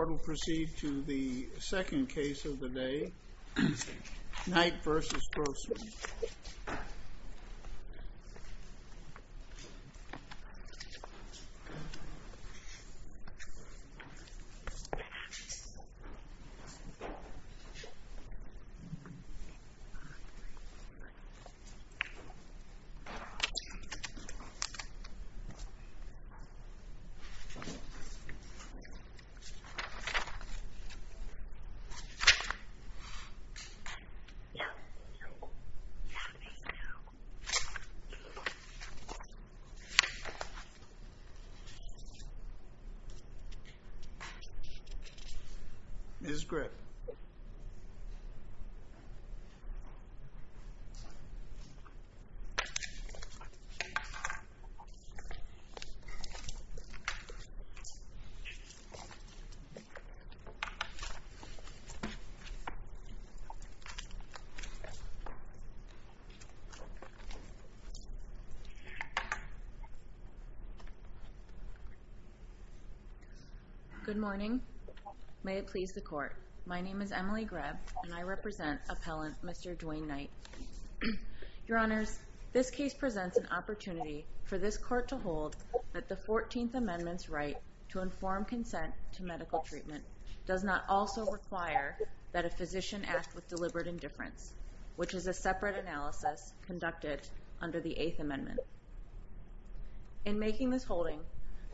The court will proceed to the second case of the day, Knight v. Grossman. The court will proceed to the second case of the day, Knight v. Grossman. Good morning. May it please the court. My name is Emily Greb and I represent Appellant Mr. Dwayne Knight. Your Honors, this case presents an opportunity for this court to hold that the Fourteenth Amendment's right to inform consent to medical treatment does not also require that a physician act with deliberate indifference, which is a separate analysis conducted under the Eighth Amendment. In making this holding,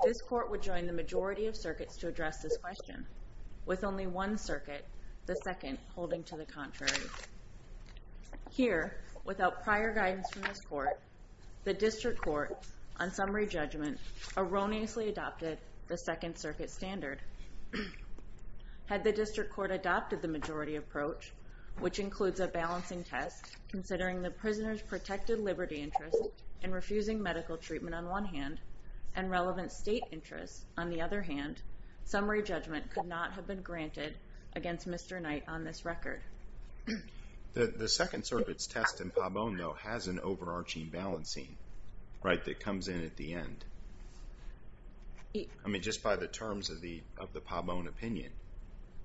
this court would join the majority of circuits to address this question, with only one circuit, the Second, holding to the contrary. Here, without prior guidance from this court, the District Court, on summary judgment, erroneously adopted the Second Circuit standard. Had the District Court adopted the majority approach, which includes a balancing test, considering the prisoner's protected liberty interest in refusing medical treatment on one hand, and relevant state interest on the other hand, summary judgment could not have been granted against Mr. Knight on this record. The Second Circuit's test in Pabon, though, has an overarching balancing, right, that comes in at the end. I mean, just by the terms of the Pabon opinion.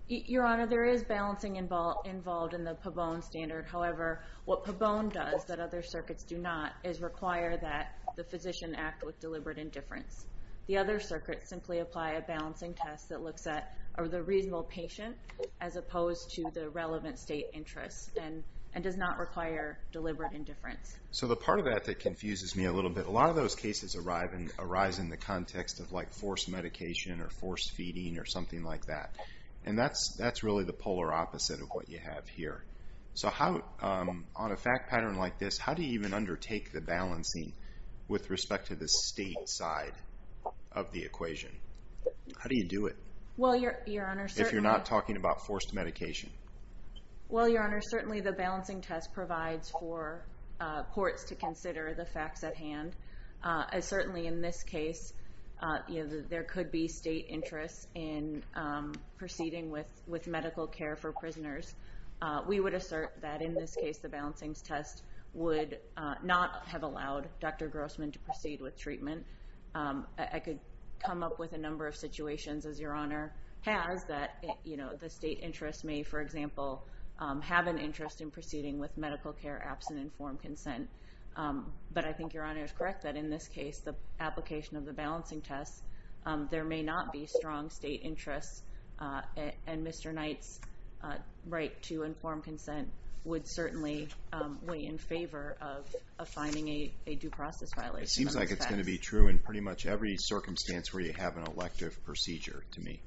Your Honor, there is balancing involved in the Pabon standard. However, what Pabon does that other circuits do not is require that the physician act with deliberate indifference. The other circuits simply apply a balancing test that looks at the reasonable patient, as opposed to the relevant state interest, and does not require deliberate indifference. So the part of that that confuses me a little bit, a lot of those cases arise in the context of, like, forced medication, or forced feeding, or something like that. And that's really the polar opposite of what you have here. So how, on a fact pattern like this, how do you even undertake the balancing with respect to the state side of the equation? How do you do it? Well, Your Honor, certainly... If you're not talking about forced medication. Well, Your Honor, certainly the balancing test provides for courts to consider the facts at hand. Certainly, in this case, there could be state interest in proceeding with medical care for prisoners. We would assert that, in this case, the balancing test would not have allowed Dr. Grossman to proceed with treatment. I could come up with a number of situations, as Your Honor has, that the state interest may, for example, have an interest in proceeding with medical care absent informed consent. But I think Your Honor is correct that, in this case, the application of the balancing test, there may not be strong state interest. And Mr. Knight's right to informed consent would certainly weigh in favor of finding a due process violation. It seems like it's going to be true in pretty much every circumstance where you have an elective procedure, to me.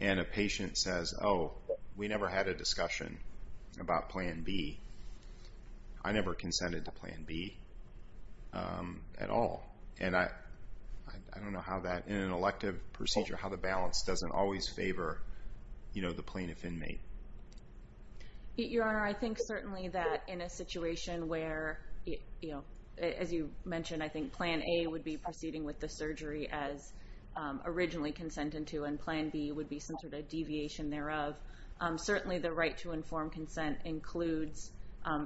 And a patient says, oh, we never had a discussion about Plan B. I never consented to Plan B at all. And I don't know how that, in an elective procedure, how the balance doesn't always favor the plaintiff inmate. Your Honor, I think certainly that, in a situation where, as you mentioned, I think Plan A would be proceeding with the surgery as originally consented to, and Plan B would be some sort of deviation thereof, certainly the right to informed consent includes,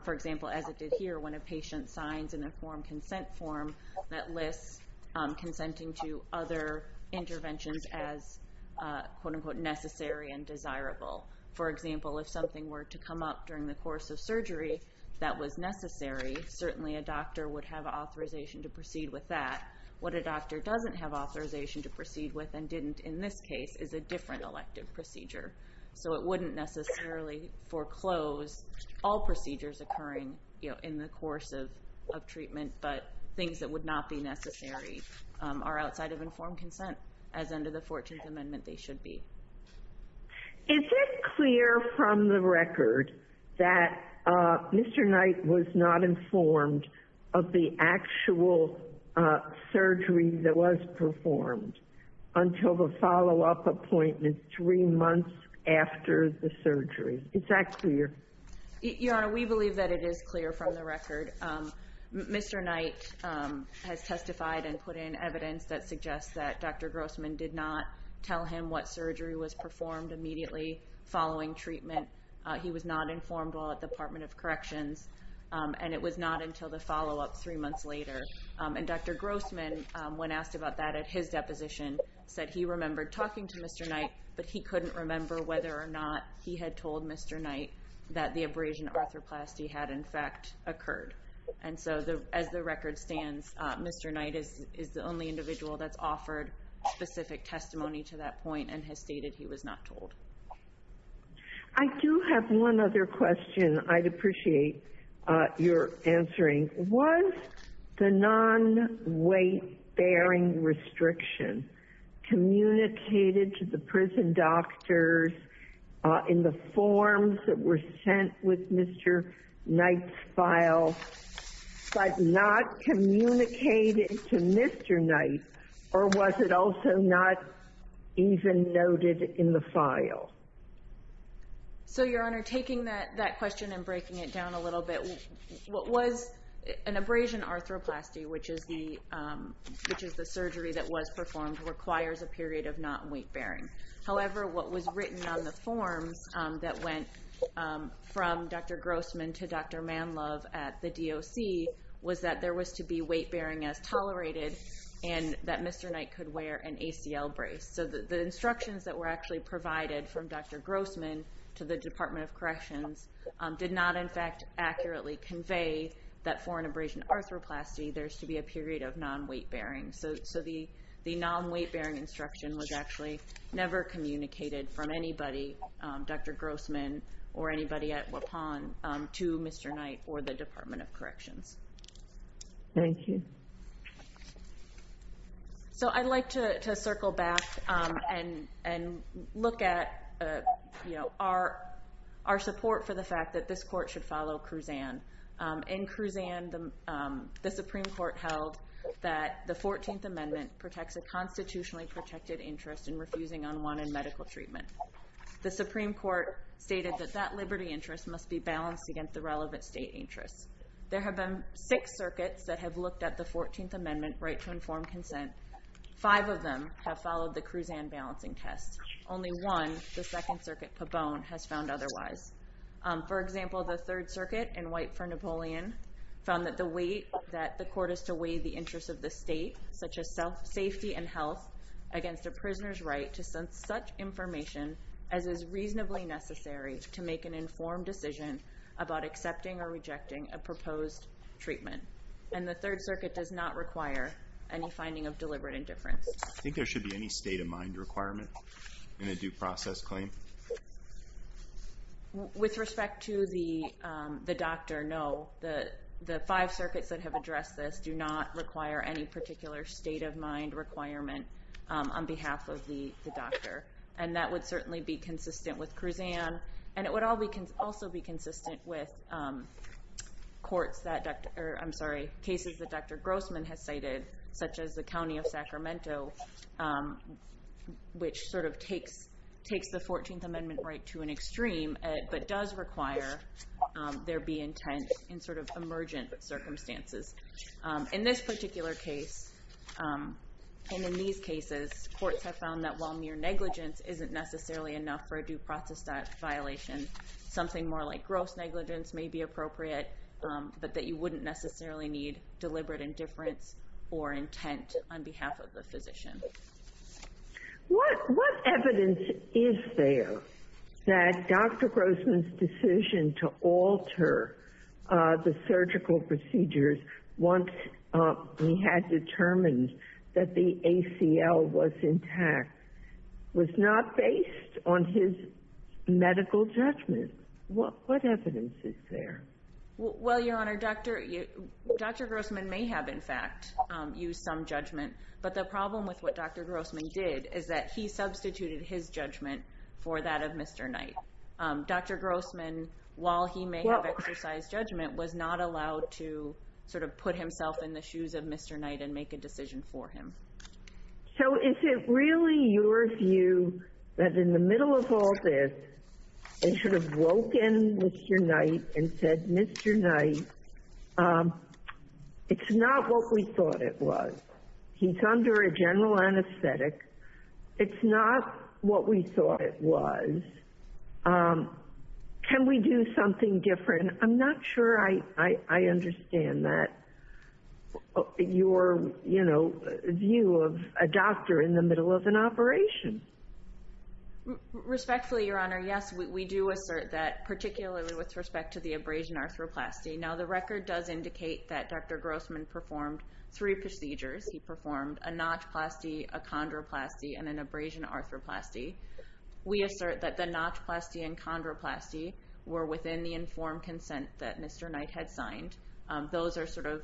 for example, as it did here, when a patient signs an informed consent form that lists consenting to other interventions as, quote-unquote, necessary and desirable. For example, if something were to come up during the course of surgery that was necessary, certainly a doctor would have authorization to proceed with that. What a doctor doesn't have authorization to proceed with and didn't in this case is a different elective procedure. So it wouldn't necessarily foreclose all procedures occurring in the course of treatment, but things that would not be necessary are outside of informed consent, as under the 14th Amendment they should be. Is it clear from the record that Mr. Knight was not informed of the actual surgery that was performed until the follow-up appointment three months after the surgery? Is that clear? Your Honor, we believe that it is clear from the record. Mr. Knight has testified and put in evidence that suggests that Dr. Grossman did not tell him what surgery was performed immediately following treatment. He was not informed while at the Department of Corrections, and it was not until the follow-up three months later. And Dr. Grossman, when asked about that at his deposition, said he remembered talking to Mr. Knight, but he couldn't remember whether or not he had told Mr. Knight that the abrasion arthroplasty had in fact occurred. And so as the record stands, Mr. Knight is the only individual that's offered specific testimony to that point and has stated he was not told. I do have one other question I'd appreciate your answering. Was the non-weight-bearing restriction communicated to the prison doctors in the forms that were sent with Mr. Knight's file, but not communicated to Mr. Knight, or was it also not even noted in the file? So, Your Honor, taking that question and breaking it down a little bit, what was an abrasion arthroplasty, which is the surgery that was performed, requires a period of non-weight-bearing. However, what was written on the forms that went from Dr. Grossman to Dr. Manlove at the DOC was that there was to be weight-bearing as tolerated and that Mr. Knight could wear an ACL brace. So the instructions that were actually provided from Dr. Grossman to the Department of Corrections did not in fact accurately convey that for an abrasion arthroplasty, there's to be a period of non-weight-bearing. So the non-weight-bearing instruction was actually never communicated from anybody, Dr. Grossman or anybody at Waupon, to Mr. Knight or the Department of Corrections. Thank you. So I'd like to circle back and look at our support for the fact that this court should follow Kruzan. In Kruzan, the Supreme Court held that the 14th Amendment protects a constitutionally protected interest in refusing unwanted medical treatment. The Supreme Court stated that that liberty interest must be balanced against the relevant state interests. There have been six circuits that have looked at the 14th Amendment right to informed consent. Five of them have followed the Kruzan balancing test. Only one, the Second Circuit, Papone, has found otherwise. For example, the Third Circuit in White v. Napoleon found that the weight that the court is to weigh the interests of the state, such as safety and health, against a prisoner's right to send such information as is reasonably necessary to make an informed decision about accepting or rejecting a proposed treatment. And the Third Circuit does not require any finding of deliberate indifference. I think there should be any state-of-mind requirement in a due process claim. With respect to the doctor, no. The five circuits that have addressed this do not require any particular state-of-mind requirement on behalf of the doctor. And that would certainly be consistent with Kruzan. And it would also be consistent with cases that Dr. Grossman has cited, such as the county of Sacramento, which takes the 14th Amendment right to an extreme but does require there be intent in emergent circumstances. In this particular case, and in these cases, courts have found that while mere negligence isn't necessarily enough for a due process violation, something more like gross negligence may be appropriate, but that you wouldn't necessarily need deliberate indifference or intent on behalf of the physician. What evidence is there that Dr. Grossman's decision to alter the surgical procedures once he had determined that the ACL was intact was not based on his medical judgment? What evidence is there? Well, Your Honor, Dr. Grossman may have, in fact, used some judgment, but the problem with what Dr. Grossman did is that he substituted his judgment for that of Mr. Knight. Dr. Grossman, while he may have exercised judgment, was not allowed to sort of put himself in the shoes of Mr. Knight and make a decision for him. So is it really your view that in the middle of all this, they should have woken Mr. Knight and said, Mr. Knight, it's not what we thought it was. He's under a general anesthetic. It's not what we thought it was. Can we do something different? I'm not sure I understand that, your view of a doctor in the middle of an operation. Respectfully, Your Honor, yes, we do assert that, particularly with respect to the abrasion arthroplasty. Now, the record does indicate that Dr. Grossman performed three procedures. He performed a notchplasty, a chondroplasty, and an abrasion arthroplasty. We assert that the notchplasty and chondroplasty were within the informed consent that Mr. Knight had signed. Those are sort of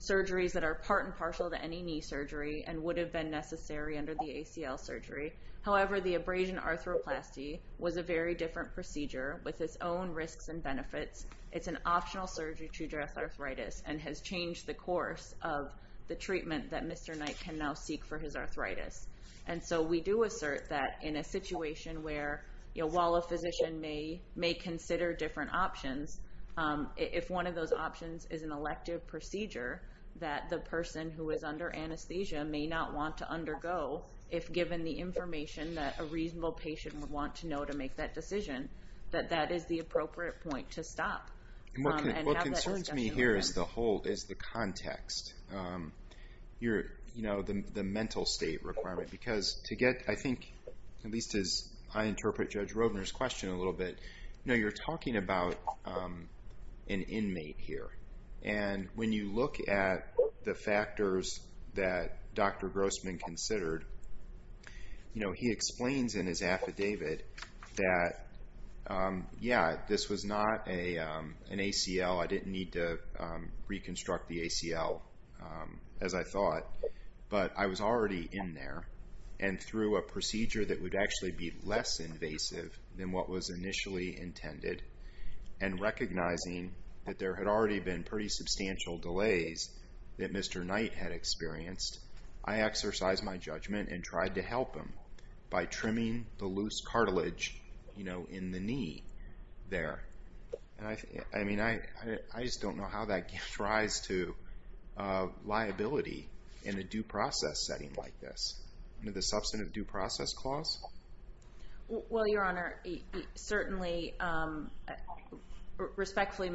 surgeries that are part and partial to any knee surgery and would have been necessary under the ACL surgery. However, the abrasion arthroplasty was a very different procedure with its own risks and benefits. It's an optional surgery to address arthritis and has changed the course of the treatment that Mr. Knight can now seek for his arthritis. And so we do assert that in a situation where, while a physician may consider different options, if one of those options is an elective procedure that the person who is under anesthesia may not want to undergo, if given the information that a reasonable patient would want to know to make that decision, that that is the appropriate point to stop. What concerns me here is the context, the mental state requirement. Because to get, I think, at least as I interpret Judge Roedner's question a little bit, you know, you're talking about an inmate here. And when you look at the factors that Dr. Grossman considered, you know, he explains in his affidavit that, yeah, this was not an ACL. I didn't need to reconstruct the ACL, as I thought. But I was already in there, and through a procedure that would actually be less invasive than what was initially intended, and recognizing that there had already been pretty substantial delays that Mr. Knight had experienced, I exercised my judgment and tried to help him by trimming the loose cartilage, you know, in the knee there. I mean, I just don't know how that gives rise to liability in a due process setting like this. Under the substantive due process clause? Well, Your Honor, certainly, respectfully,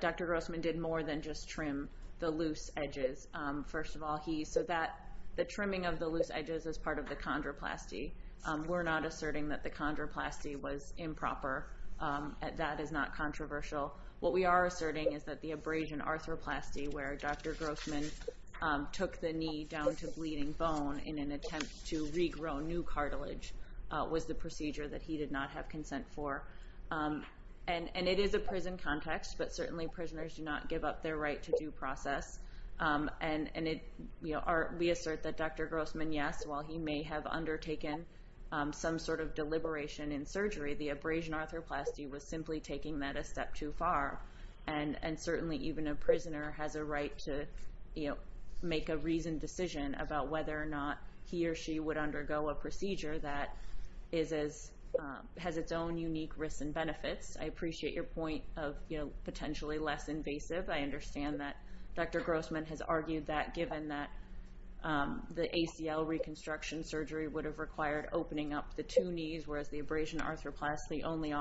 Dr. Grossman did more than just trim the loose edges. First of all, he said that the trimming of the loose edges is part of the chondroplasty. We're not asserting that the chondroplasty was improper. That is not controversial. What we are asserting is that the abrasion arthroplasty, where Dr. Grossman took the knee down to bleeding bone in an attempt to regrow new cartilage, was the procedure that he did not have consent for. And it is a prison context, but certainly prisoners do not give up their right to due process. And we assert that Dr. Grossman, yes, while he may have undertaken some sort of deliberation in surgery, the abrasion arthroplasty was simply taking that a step too far. And certainly, even a prisoner has a right to make a reasoned decision about whether or not he or she would undergo a procedure that has its own unique risks and benefits. I appreciate your point of potentially less invasive. I understand that Dr. Grossman has argued that given that the ACL reconstruction surgery would have required opening up the two knees, whereas the abrasion arthroplasty only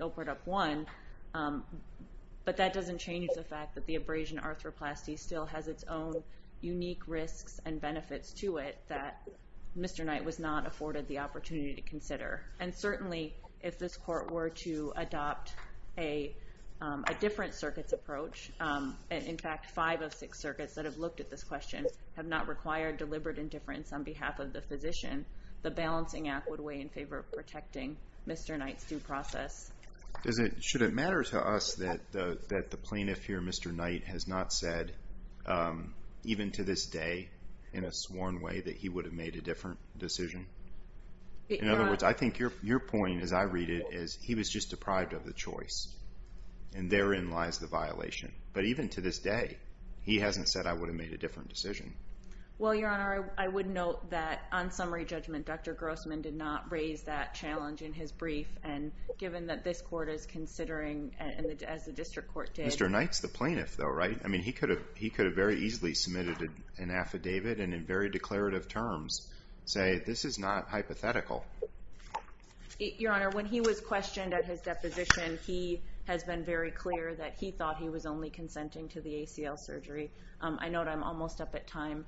opened up one. But that doesn't change the fact that the abrasion arthroplasty still has its own unique risks and benefits to it that Mr. Knight was not afforded the opportunity to consider. And certainly, if this court were to adopt a different circuit's approach, in fact, five of six circuits that have looked at this question have not required deliberate indifference on behalf of the physician, the balancing act would weigh in favor of protecting Mr. Knight's due process. Should it matter to us that the plaintiff here, Mr. Knight, has not said, even to this day, in a sworn way, that he would have made a different decision? In other words, I think your point, as I read it, is he was just deprived of the choice. And therein lies the violation. But even to this day, he hasn't said, I would have made a different decision. Well, Your Honor, I would note that on summary judgment, Dr. Grossman did not raise that challenge in his brief. And given that this court is considering, as the district court did. Mr. Knight's the plaintiff, though, right? I mean, he could have very easily submitted an affidavit and in very declarative terms say, this is not hypothetical. Your Honor, when he was questioned at his deposition, he has been very clear that he thought he was only consenting to the ACL surgery. I note I'm almost up at time.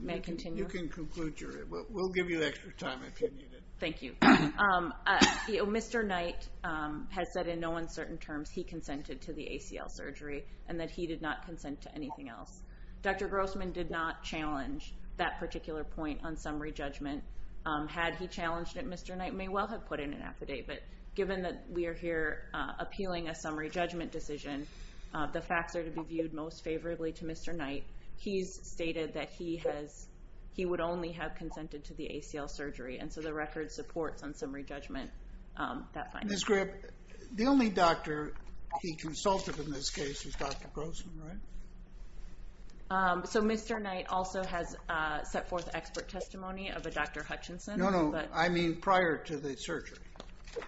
May I continue? You can conclude. We'll give you extra time if you need it. Thank you. Mr. Knight has said in no uncertain terms he consented to the ACL surgery and that he did not consent to anything else. Dr. Grossman did not challenge that particular point on summary judgment. Had he challenged it, Mr. Knight may well have put in an affidavit. But given that we are here appealing a summary judgment decision, the facts are to be viewed most favorably to Mr. Knight. He's stated that he would only have consented to the ACL surgery. And so the record supports on summary judgment that finding. Ms. Grip, the only doctor he consulted in this case is Dr. Grossman, right? So Mr. Knight also has set forth expert testimony of a Dr. Hutchinson. No, no, I mean prior to the surgery.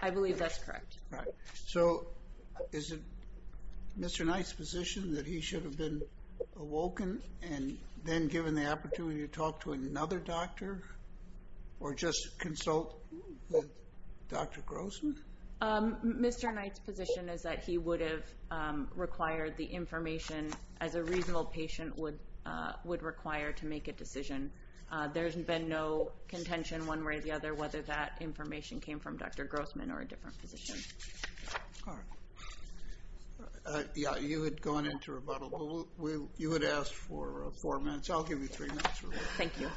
I believe that's correct. So is it Mr. Knight's position that he should have been awoken and then given the opportunity to talk to another doctor or just consult with Dr. Grossman? Mr. Knight's position is that he would have required the information as a reasonable patient would require to make a decision. There's been no contention one way or the other whether that information came from Dr. Grossman or a different physician. All right. Yeah, you had gone into rebuttal. You had asked for four minutes. I'll give you three minutes. Thank you.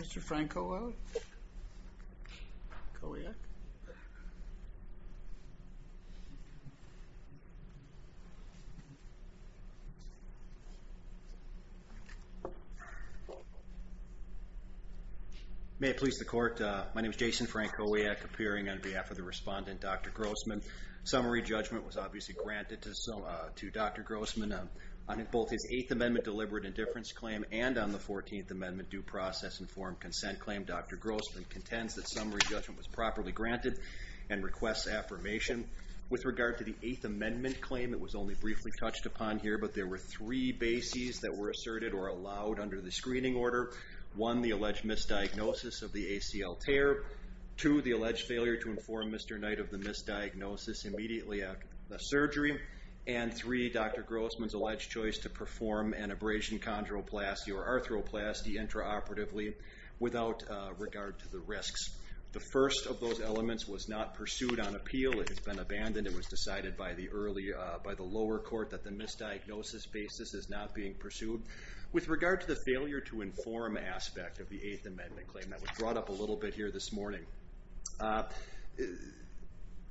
Mr. Frankowiak? May it please the Court. My name is Jason Frankowiak, appearing on behalf of the respondent, Dr. Grossman. Summary judgment was obviously granted to Dr. Grossman on both his Eighth Amendment deliberate indifference claim and on the Fourteenth Amendment due process informed consent claim. Dr. Grossman contends that summary judgment was properly granted and requests affirmation. With regard to the Eighth Amendment claim, it was only briefly touched upon here, but there were three bases that were asserted or allowed under the screening order. One, the alleged misdiagnosis of the ACL tear. Two, the alleged failure to inform Mr. Knight of the misdiagnosis immediately after the surgery. And three, Dr. Grossman's alleged choice to perform an abrasion chondroplasty or arthroplasty intraoperatively without regard to the risks. The first of those elements was not pursued on appeal. It has been abandoned. It was decided by the lower court that the misdiagnosis basis is not being pursued. With regard to the failure to inform aspect of the Eighth Amendment claim, that was brought up a little bit here this morning,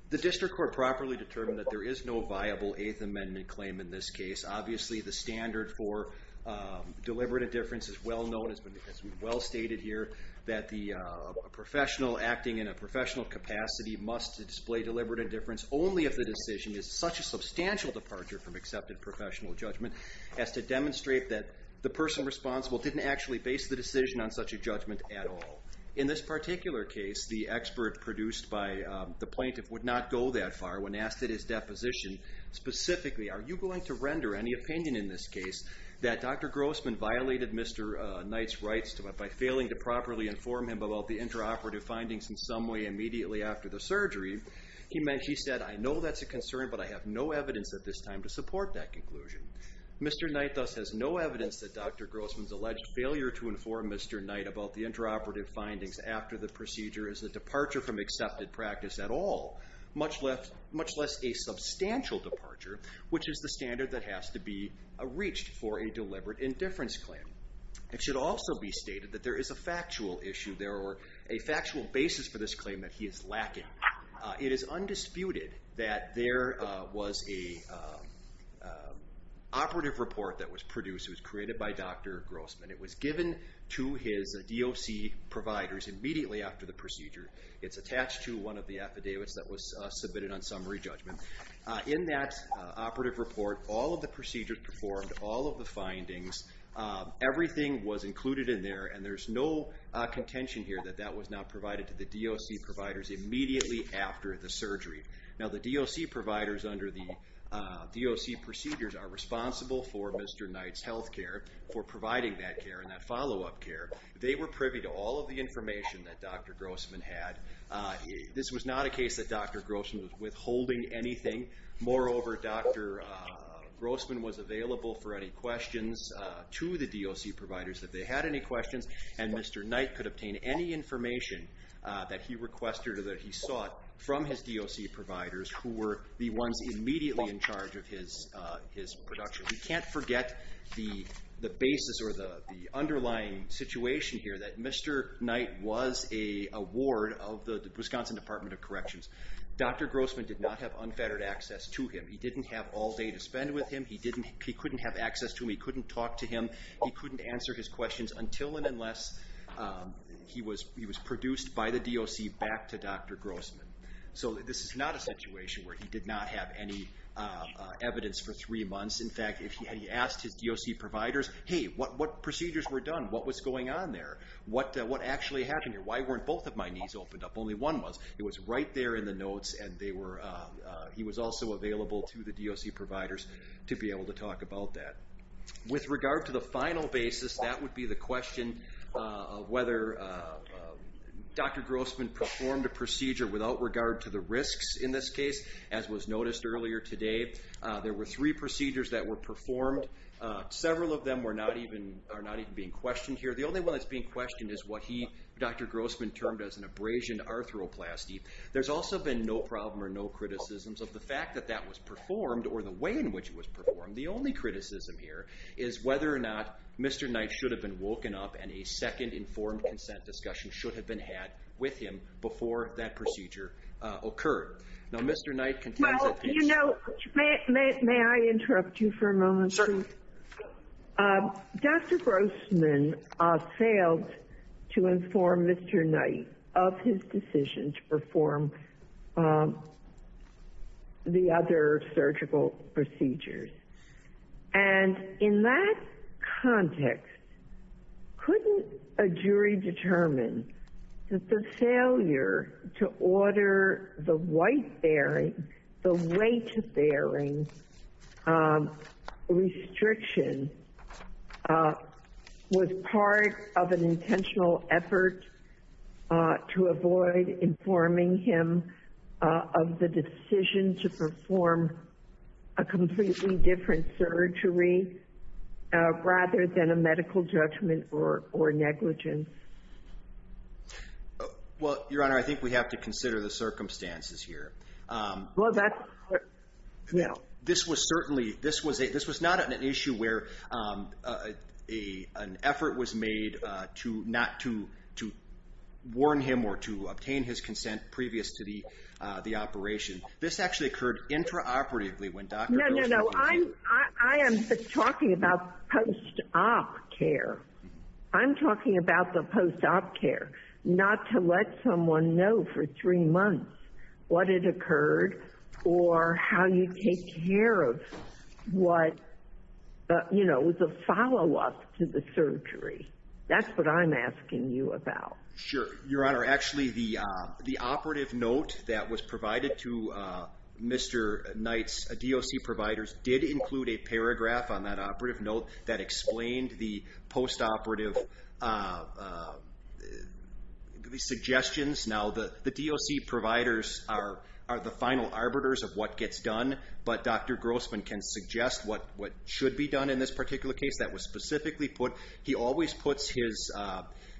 the district court properly determined that there is no viable Eighth Amendment claim in this case. Obviously, the standard for deliberate indifference is well known. It has been well stated here that the professional acting in a professional capacity must display deliberate indifference only if the decision is such a substantial departure from accepted professional judgment as to demonstrate that the person responsible didn't actually base the decision on such a judgment at all. In this particular case, the expert produced by the plaintiff would not go that far. When asked at his deposition specifically, are you going to render any opinion in this case that Dr. Grossman violated Mr. Knight's rights by failing to properly inform him about the intraoperative findings in some way immediately after the surgery, he said, I know that's a concern, but I have no evidence at this time to support that conclusion. Mr. Knight thus has no evidence that Dr. Grossman's alleged failure to inform Mr. Knight about the intraoperative findings after the procedure is a departure from accepted practice at all, much less a substantial departure, which is the standard that has to be reached for a deliberate indifference claim. It should also be stated that there is a factual issue there or a factual basis for this claim that he is lacking. It is undisputed that there was an operative report that was produced. It was created by Dr. Grossman. It was given to his DOC providers immediately after the procedure. It's attached to one of the affidavits that was submitted on summary judgment. In that operative report, all of the procedures performed, all of the findings, everything was included in there, and there's no contention here that that was not provided to the DOC providers immediately after the surgery. Now, the DOC providers under the DOC procedures are responsible for Mr. Knight's health care, for providing that care and that follow-up care. They were privy to all of the information that Dr. Grossman had. This was not a case that Dr. Grossman was withholding anything. Moreover, Dr. Grossman was available for any questions to the DOC providers. If they had any questions, and Mr. Knight could obtain any information that he requested or that he sought from his DOC providers, who were the ones immediately in charge of his production. We can't forget the basis or the underlying situation here, that Mr. Knight was a ward of the Wisconsin Department of Corrections. Dr. Grossman did not have unfettered access to him. He didn't have all day to spend with him. He couldn't have access to him. He couldn't talk to him. He couldn't answer his questions until and unless he was produced by the DOC back to Dr. Grossman. So this is not a situation where he did not have any evidence for three months. In fact, if he had asked his DOC providers, Hey, what procedures were done? What was going on there? What actually happened here? Why weren't both of my knees opened up? Only one was. It was right there in the notes, and he was also available to the DOC providers to be able to talk about that. With regard to the final basis, that would be the question of whether Dr. Grossman performed a procedure without regard to the risks in this case, as was noticed earlier today. There were three procedures that were performed. Several of them are not even being questioned here. The only one that's being questioned is what Dr. Grossman termed as an abrasion arthroplasty. There's also been no problem or no criticisms of the fact that that was performed or the way in which it was performed. The only criticism here is whether or not Mr. Knight should have been woken up and a second informed consent discussion should have been had with him before that procedure occurred. Now, Mr. Knight contends that- Well, you know, may I interrupt you for a moment? Certainly. Dr. Grossman failed to inform Mr. Knight of his decision to perform the other surgical procedures. And in that context, couldn't a jury determine that the failure to order the white bearing, the weight bearing restriction was part of an intentional effort to avoid informing him of the decision to perform a completely different surgery rather than a medical judgment or negligence? Well, Your Honor, I think we have to consider the circumstances here. Well, that's- This was not an issue where an effort was made to not to warn him or to obtain his consent previous to the operation. This actually occurred intraoperatively when Dr. Grossman- No, no, no. I am talking about post-op care. I'm talking about the post-op care, not to let someone know for three months what had occurred or how you take care of what, you know, was a follow-up to the surgery. That's what I'm asking you about. Sure. Your Honor, actually, the operative note that was provided to Mr. Knight's DOC providers did include a paragraph on that operative note that explained the post-operative suggestions. Now, the DOC providers are the final arbiters of what gets done, but Dr. Grossman can suggest what should be done in this particular case. That was specifically put- He always puts his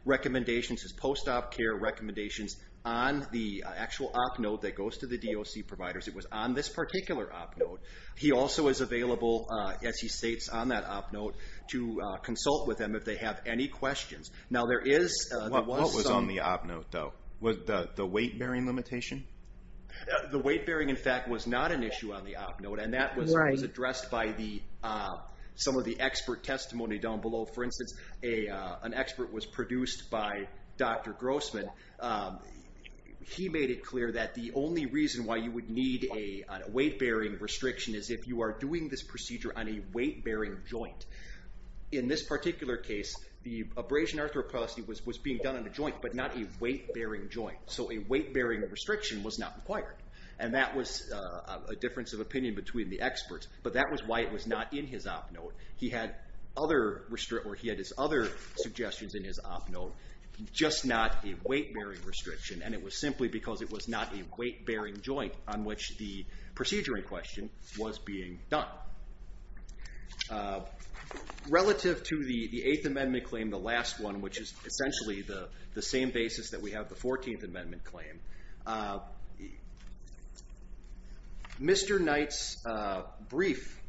recommendations, his post-op care recommendations, on the actual op note that goes to the DOC providers. It was on this particular op note. He also is available, as he states on that op note, to consult with them if they have any questions. Now, there is- What was on the op note, though? Was it the weight-bearing limitation? The weight-bearing, in fact, was not an issue on the op note, and that was addressed by some of the expert testimony down below. For instance, an expert was produced by Dr. Grossman. He made it clear that the only reason why you would need a weight-bearing restriction is if you are doing this procedure on a weight-bearing joint. In this particular case, the abrasion arthroplasty was being done on a joint, but not a weight-bearing joint. So a weight-bearing restriction was not required, and that was a difference of opinion between the experts, but that was why it was not in his op note. He had his other suggestions in his op note, just not a weight-bearing restriction, and it was simply because it was not a weight-bearing joint on which the procedure in question was being done. Relative to the Eighth Amendment claim, the last one, which is essentially the same basis that we have the Fourteenth Amendment claim, Mr. Knight's brief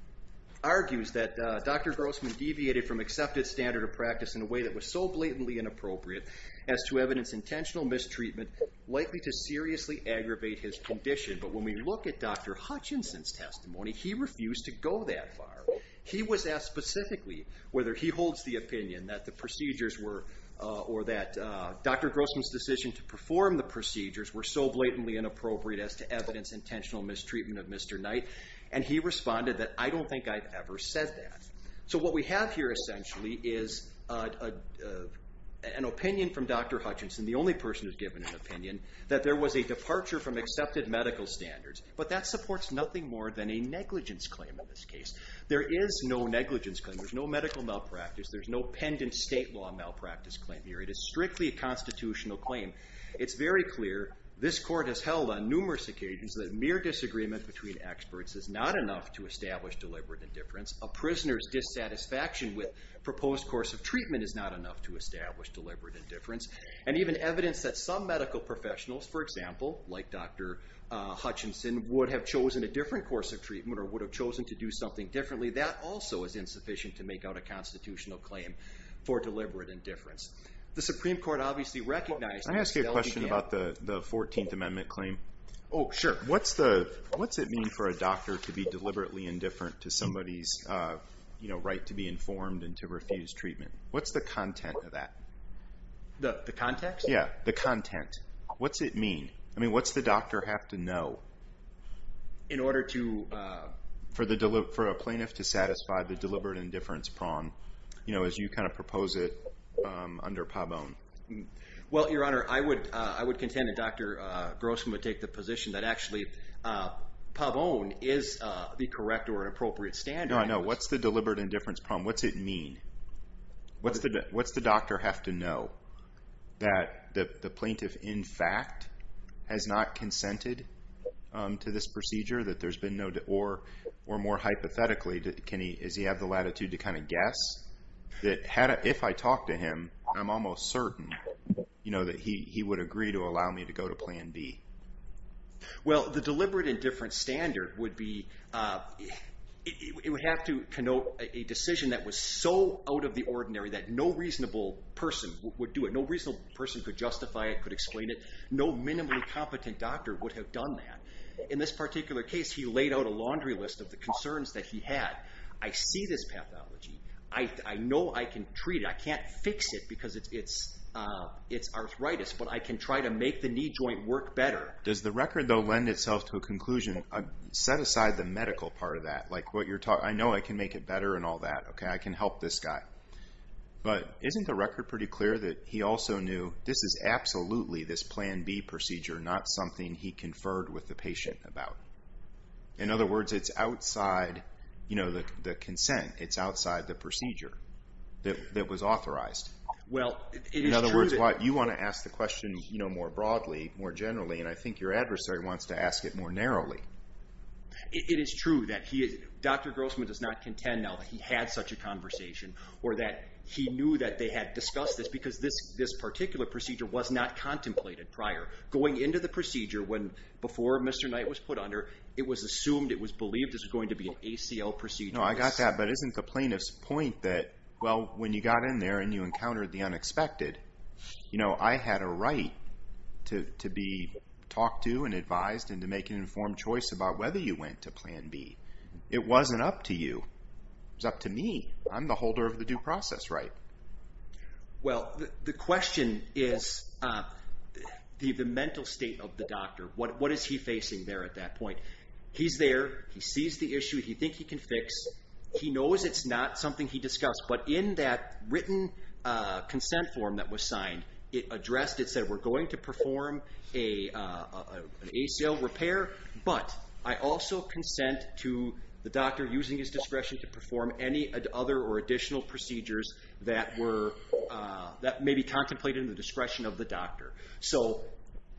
argues that Dr. Grossman deviated from accepted standard of practice in a way that was so blatantly inappropriate as to evidence intentional mistreatment likely to seriously aggravate his condition. But when we look at Dr. Hutchinson's testimony, he refused to go that far. He was asked specifically whether he holds the opinion that the procedures were, or that Dr. Grossman's decision to perform the procedures were so blatantly inappropriate as to evidence intentional mistreatment of Mr. Knight, and he responded that, I don't think I've ever said that. So what we have here essentially is an opinion from Dr. Hutchinson, the only person who's given an opinion, that there was a departure from accepted medical standards. But that supports nothing more than a negligence claim in this case. There is no negligence claim, there's no medical malpractice, there's no pendent state law malpractice claim here. It is strictly a constitutional claim. It's very clear, this court has held on numerous occasions that mere disagreement between experts is not enough to establish deliberate indifference. A prisoner's dissatisfaction with proposed course of treatment is not enough to establish deliberate indifference. And even evidence that some medical professionals, for example, like Dr. Hutchinson, would have chosen a different course of treatment or would have chosen to do something differently, that also is insufficient to make out a constitutional claim for deliberate indifference. The Supreme Court obviously recognizes... Can I ask you a question about the 14th Amendment claim? Oh, sure. What's it mean for a doctor to be deliberately indifferent to somebody's right to be informed and to refuse treatment? What's the content of that? The context? Yeah, the content. What's it mean? I mean, what's the doctor have to know? In order to... For a plaintiff to satisfy the deliberate indifference prong, you know, as you kind of propose it under Pabon. Well, Your Honor, I would contend that Dr. Grossman would take the position that actually Pabon is the correct or appropriate standard. No, I know. What's the deliberate indifference prong? What's it mean? What's the doctor have to know? That the plaintiff, in fact, has not consented to this procedure? That there's been no... Or more hypothetically, does he have the latitude to kind of guess? That if I talk to him, I'm almost certain, you know, that he would agree to allow me to go to Plan B? Well, the deliberate indifference standard would be... It would have to connote a decision that was so out of the ordinary that no reasonable person would do it. No reasonable person could justify it, could explain it. No minimally competent doctor would have done that. In this particular case, he laid out a laundry list of the concerns that he had. I see this pathology. I know I can treat it. I can't fix it because it's arthritis, but I can try to make the knee joint work better. Does the record, though, lend itself to a conclusion? Set aside the medical part of that. Like, I know I can make it better and all that. I can help this guy. But isn't the record pretty clear that he also knew this is absolutely this Plan B procedure, not something he conferred with the patient about? In other words, it's outside the consent. It's outside the procedure. That was authorized. In other words, you want to ask the question more broadly, more generally, and I think your adversary wants to ask it more narrowly. It is true that Dr. Grossman does not contend now that he had such a conversation or that he knew that they had discussed this because this particular procedure was not contemplated prior. Going into the procedure before Mr. Knight was put under, it was assumed, it was believed this was going to be an ACL procedure. No, I got that, but isn't the plaintiff's point that, well, when you got in there and you encountered the unexpected, I had a right to be talked to and advised and to make an informed choice about whether you went to Plan B. It wasn't up to you. It was up to me. I'm the holder of the due process right. Well, the question is the mental state of the doctor. What is he facing there at that point? He's there. He sees the issue. He thinks he can fix. He knows it's not something he discussed, but in that written consent form that was signed, it addressed, it said we're going to perform an ACL repair, but I also consent to the doctor using his discretion to perform any other or additional procedures that may be contemplated in the discretion of the doctor. So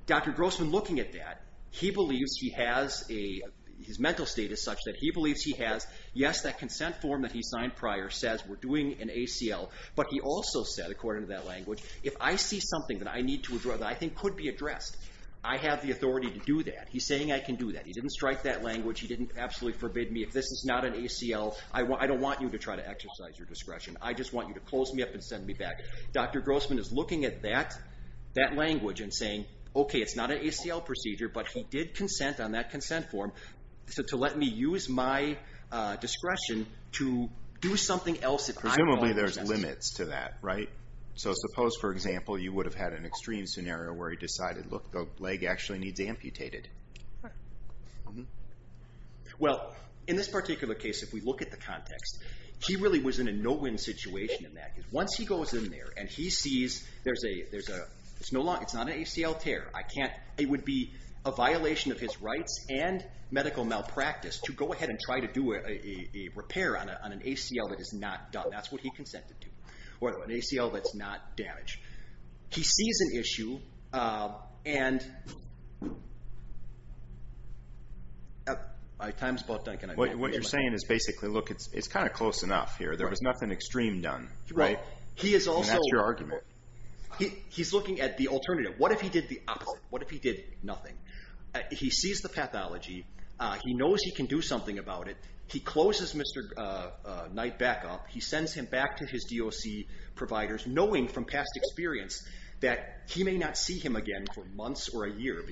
Dr. Grossman looking at that, he believes he has a, his mental state is such that he believes he has, yes, that consent form that he signed prior says we're doing an ACL, but he also said, according to that language, if I see something that I need to withdraw that I think could be addressed, I have the authority to do that. He's saying I can do that. He didn't strike that language. He didn't absolutely forbid me. If this is not an ACL, I don't want you to try to exercise your discretion. I just want you to close me up and send me back. Dr. Grossman is looking at that language and saying, okay, it's not an ACL procedure, but he did consent on that consent form to let me use my discretion to do something else. Presumably there's limits to that, right? So suppose, for example, you would have had an extreme scenario where he decided, look, the leg actually needs amputated. Well, in this particular case, if we look at the context, he really was in a no-win situation in that. Once he goes in there and he sees it's not an ACL tear, it would be a violation of his rights and medical malpractice to go ahead and try to do a repair on an ACL that is not done. That's what he consented to, or an ACL that's not damaged. He sees an issue, and my time's about done. What you're saying is basically, look, it's kind of close enough here. There was nothing extreme done, and that's your argument. He's looking at the alternative. What if he did the opposite? What if he did nothing? He sees the pathology. He knows he can do something about it. He closes Mr. Knight back up. He sends him back to his DOC providers, knowing from past experience that he may not see him again for months or a year.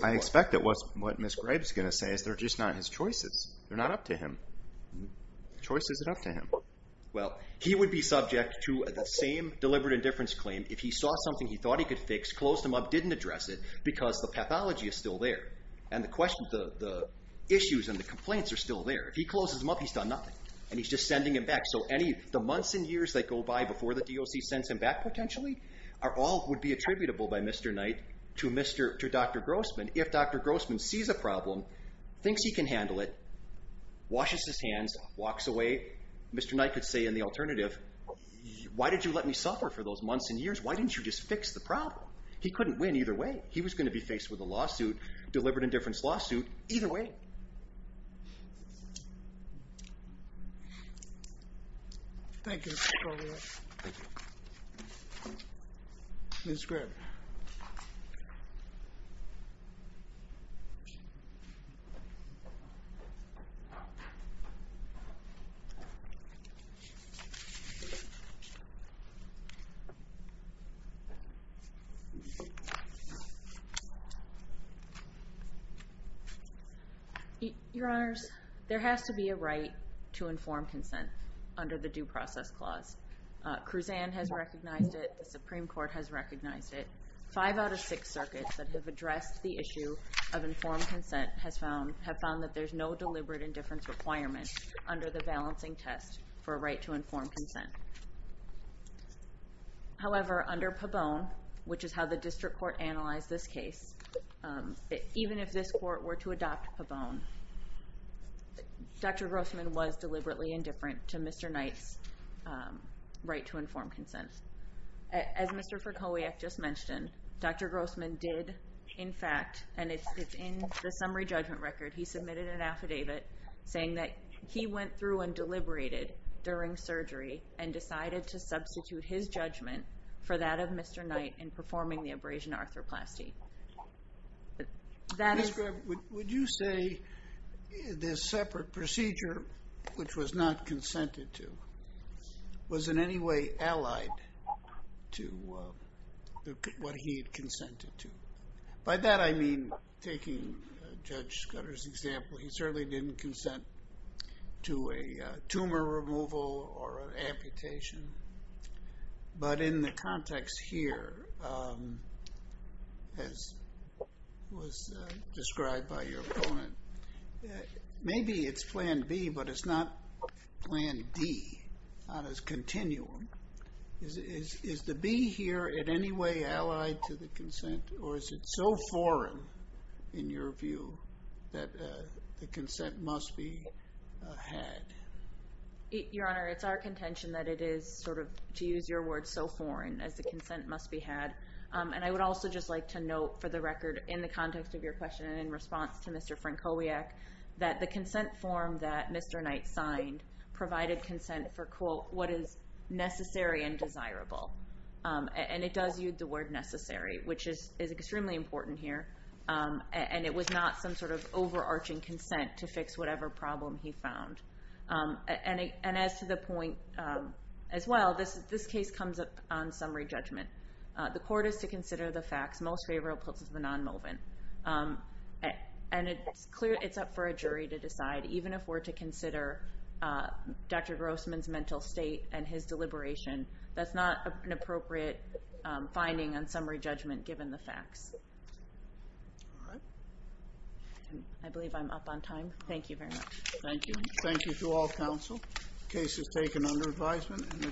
I expect that what Ms. Graves is going to say is they're just not his choices. They're not up to him. The choice isn't up to him. Well, he would be subject to the same deliberate indifference claim if he saw something he thought he could fix, closed him up, didn't address it, because the pathology is still there, and the issues and the complaints are still there. If he closes him up, he's done nothing, and he's just sending him back. So the months and years that go by before the DOC sends him back, potentially, all would be attributable by Mr. Knight to Dr. Grossman if Dr. Grossman sees a problem, thinks he can handle it, washes his hands, walks away. Mr. Knight could say in the alternative, why did you let me suffer for those months and years? Why didn't you just fix the problem? He couldn't win either way. He was going to be faced with a lawsuit, deliberate indifference lawsuit, either way. Thank you. Your Honors, there has to be a right to informed consent under the Due Process Clause. Kruzan has recognized it. The Supreme Court has recognized it. Five out of six circuits that have addressed the issue of informed consent have found that there's no deliberate indifference requirement under the balancing test for a right to informed consent. However, under Pabon, which is how the district court analyzed this case, even if this court were to adopt Pabon, Dr. Grossman was deliberately indifferent to Mr. Knight's right to informed consent. As Mr. Ferkowiak just mentioned, Dr. Grossman did, in fact, and it's in the summary judgment record, he submitted an affidavit saying that he went through and deliberated during surgery and decided to substitute his judgment for that of Mr. Knight in performing the abrasion arthroplasty. Ms. Graff, would you say this separate procedure, which was not consented to, was in any way allied to what he had consented to? By that, I mean taking Judge Scudder's example. He certainly didn't consent to a tumor removal or an amputation. But in the context here, as was described by your opponent, maybe it's Plan B, but it's not Plan D, not as continuum. Is the B here in any way allied to the consent, or is it so foreign in your view that the consent must be had? Your Honor, it's our contention that it is, to use your word, so foreign as the consent must be had. And I would also just like to note for the record, in the context of your question and in response to Mr. Ferkowiak, that the consent form that Mr. Knight signed provided consent for, quote, what is necessary and desirable. And it does use the word necessary, which is extremely important here. And it was not some sort of overarching consent to fix whatever problem he found. And as to the point as well, this case comes up on summary judgment. The court is to consider the facts, most favorable to the non-movement. And it's clear it's up for a jury to decide, even if we're to consider Dr. Grossman's mental state and his deliberation. That's not an appropriate finding on summary judgment, given the facts. All right. I believe I'm up on time. Thank you very much. Thank you. Thank you to all counsel. The case is taken under advisement.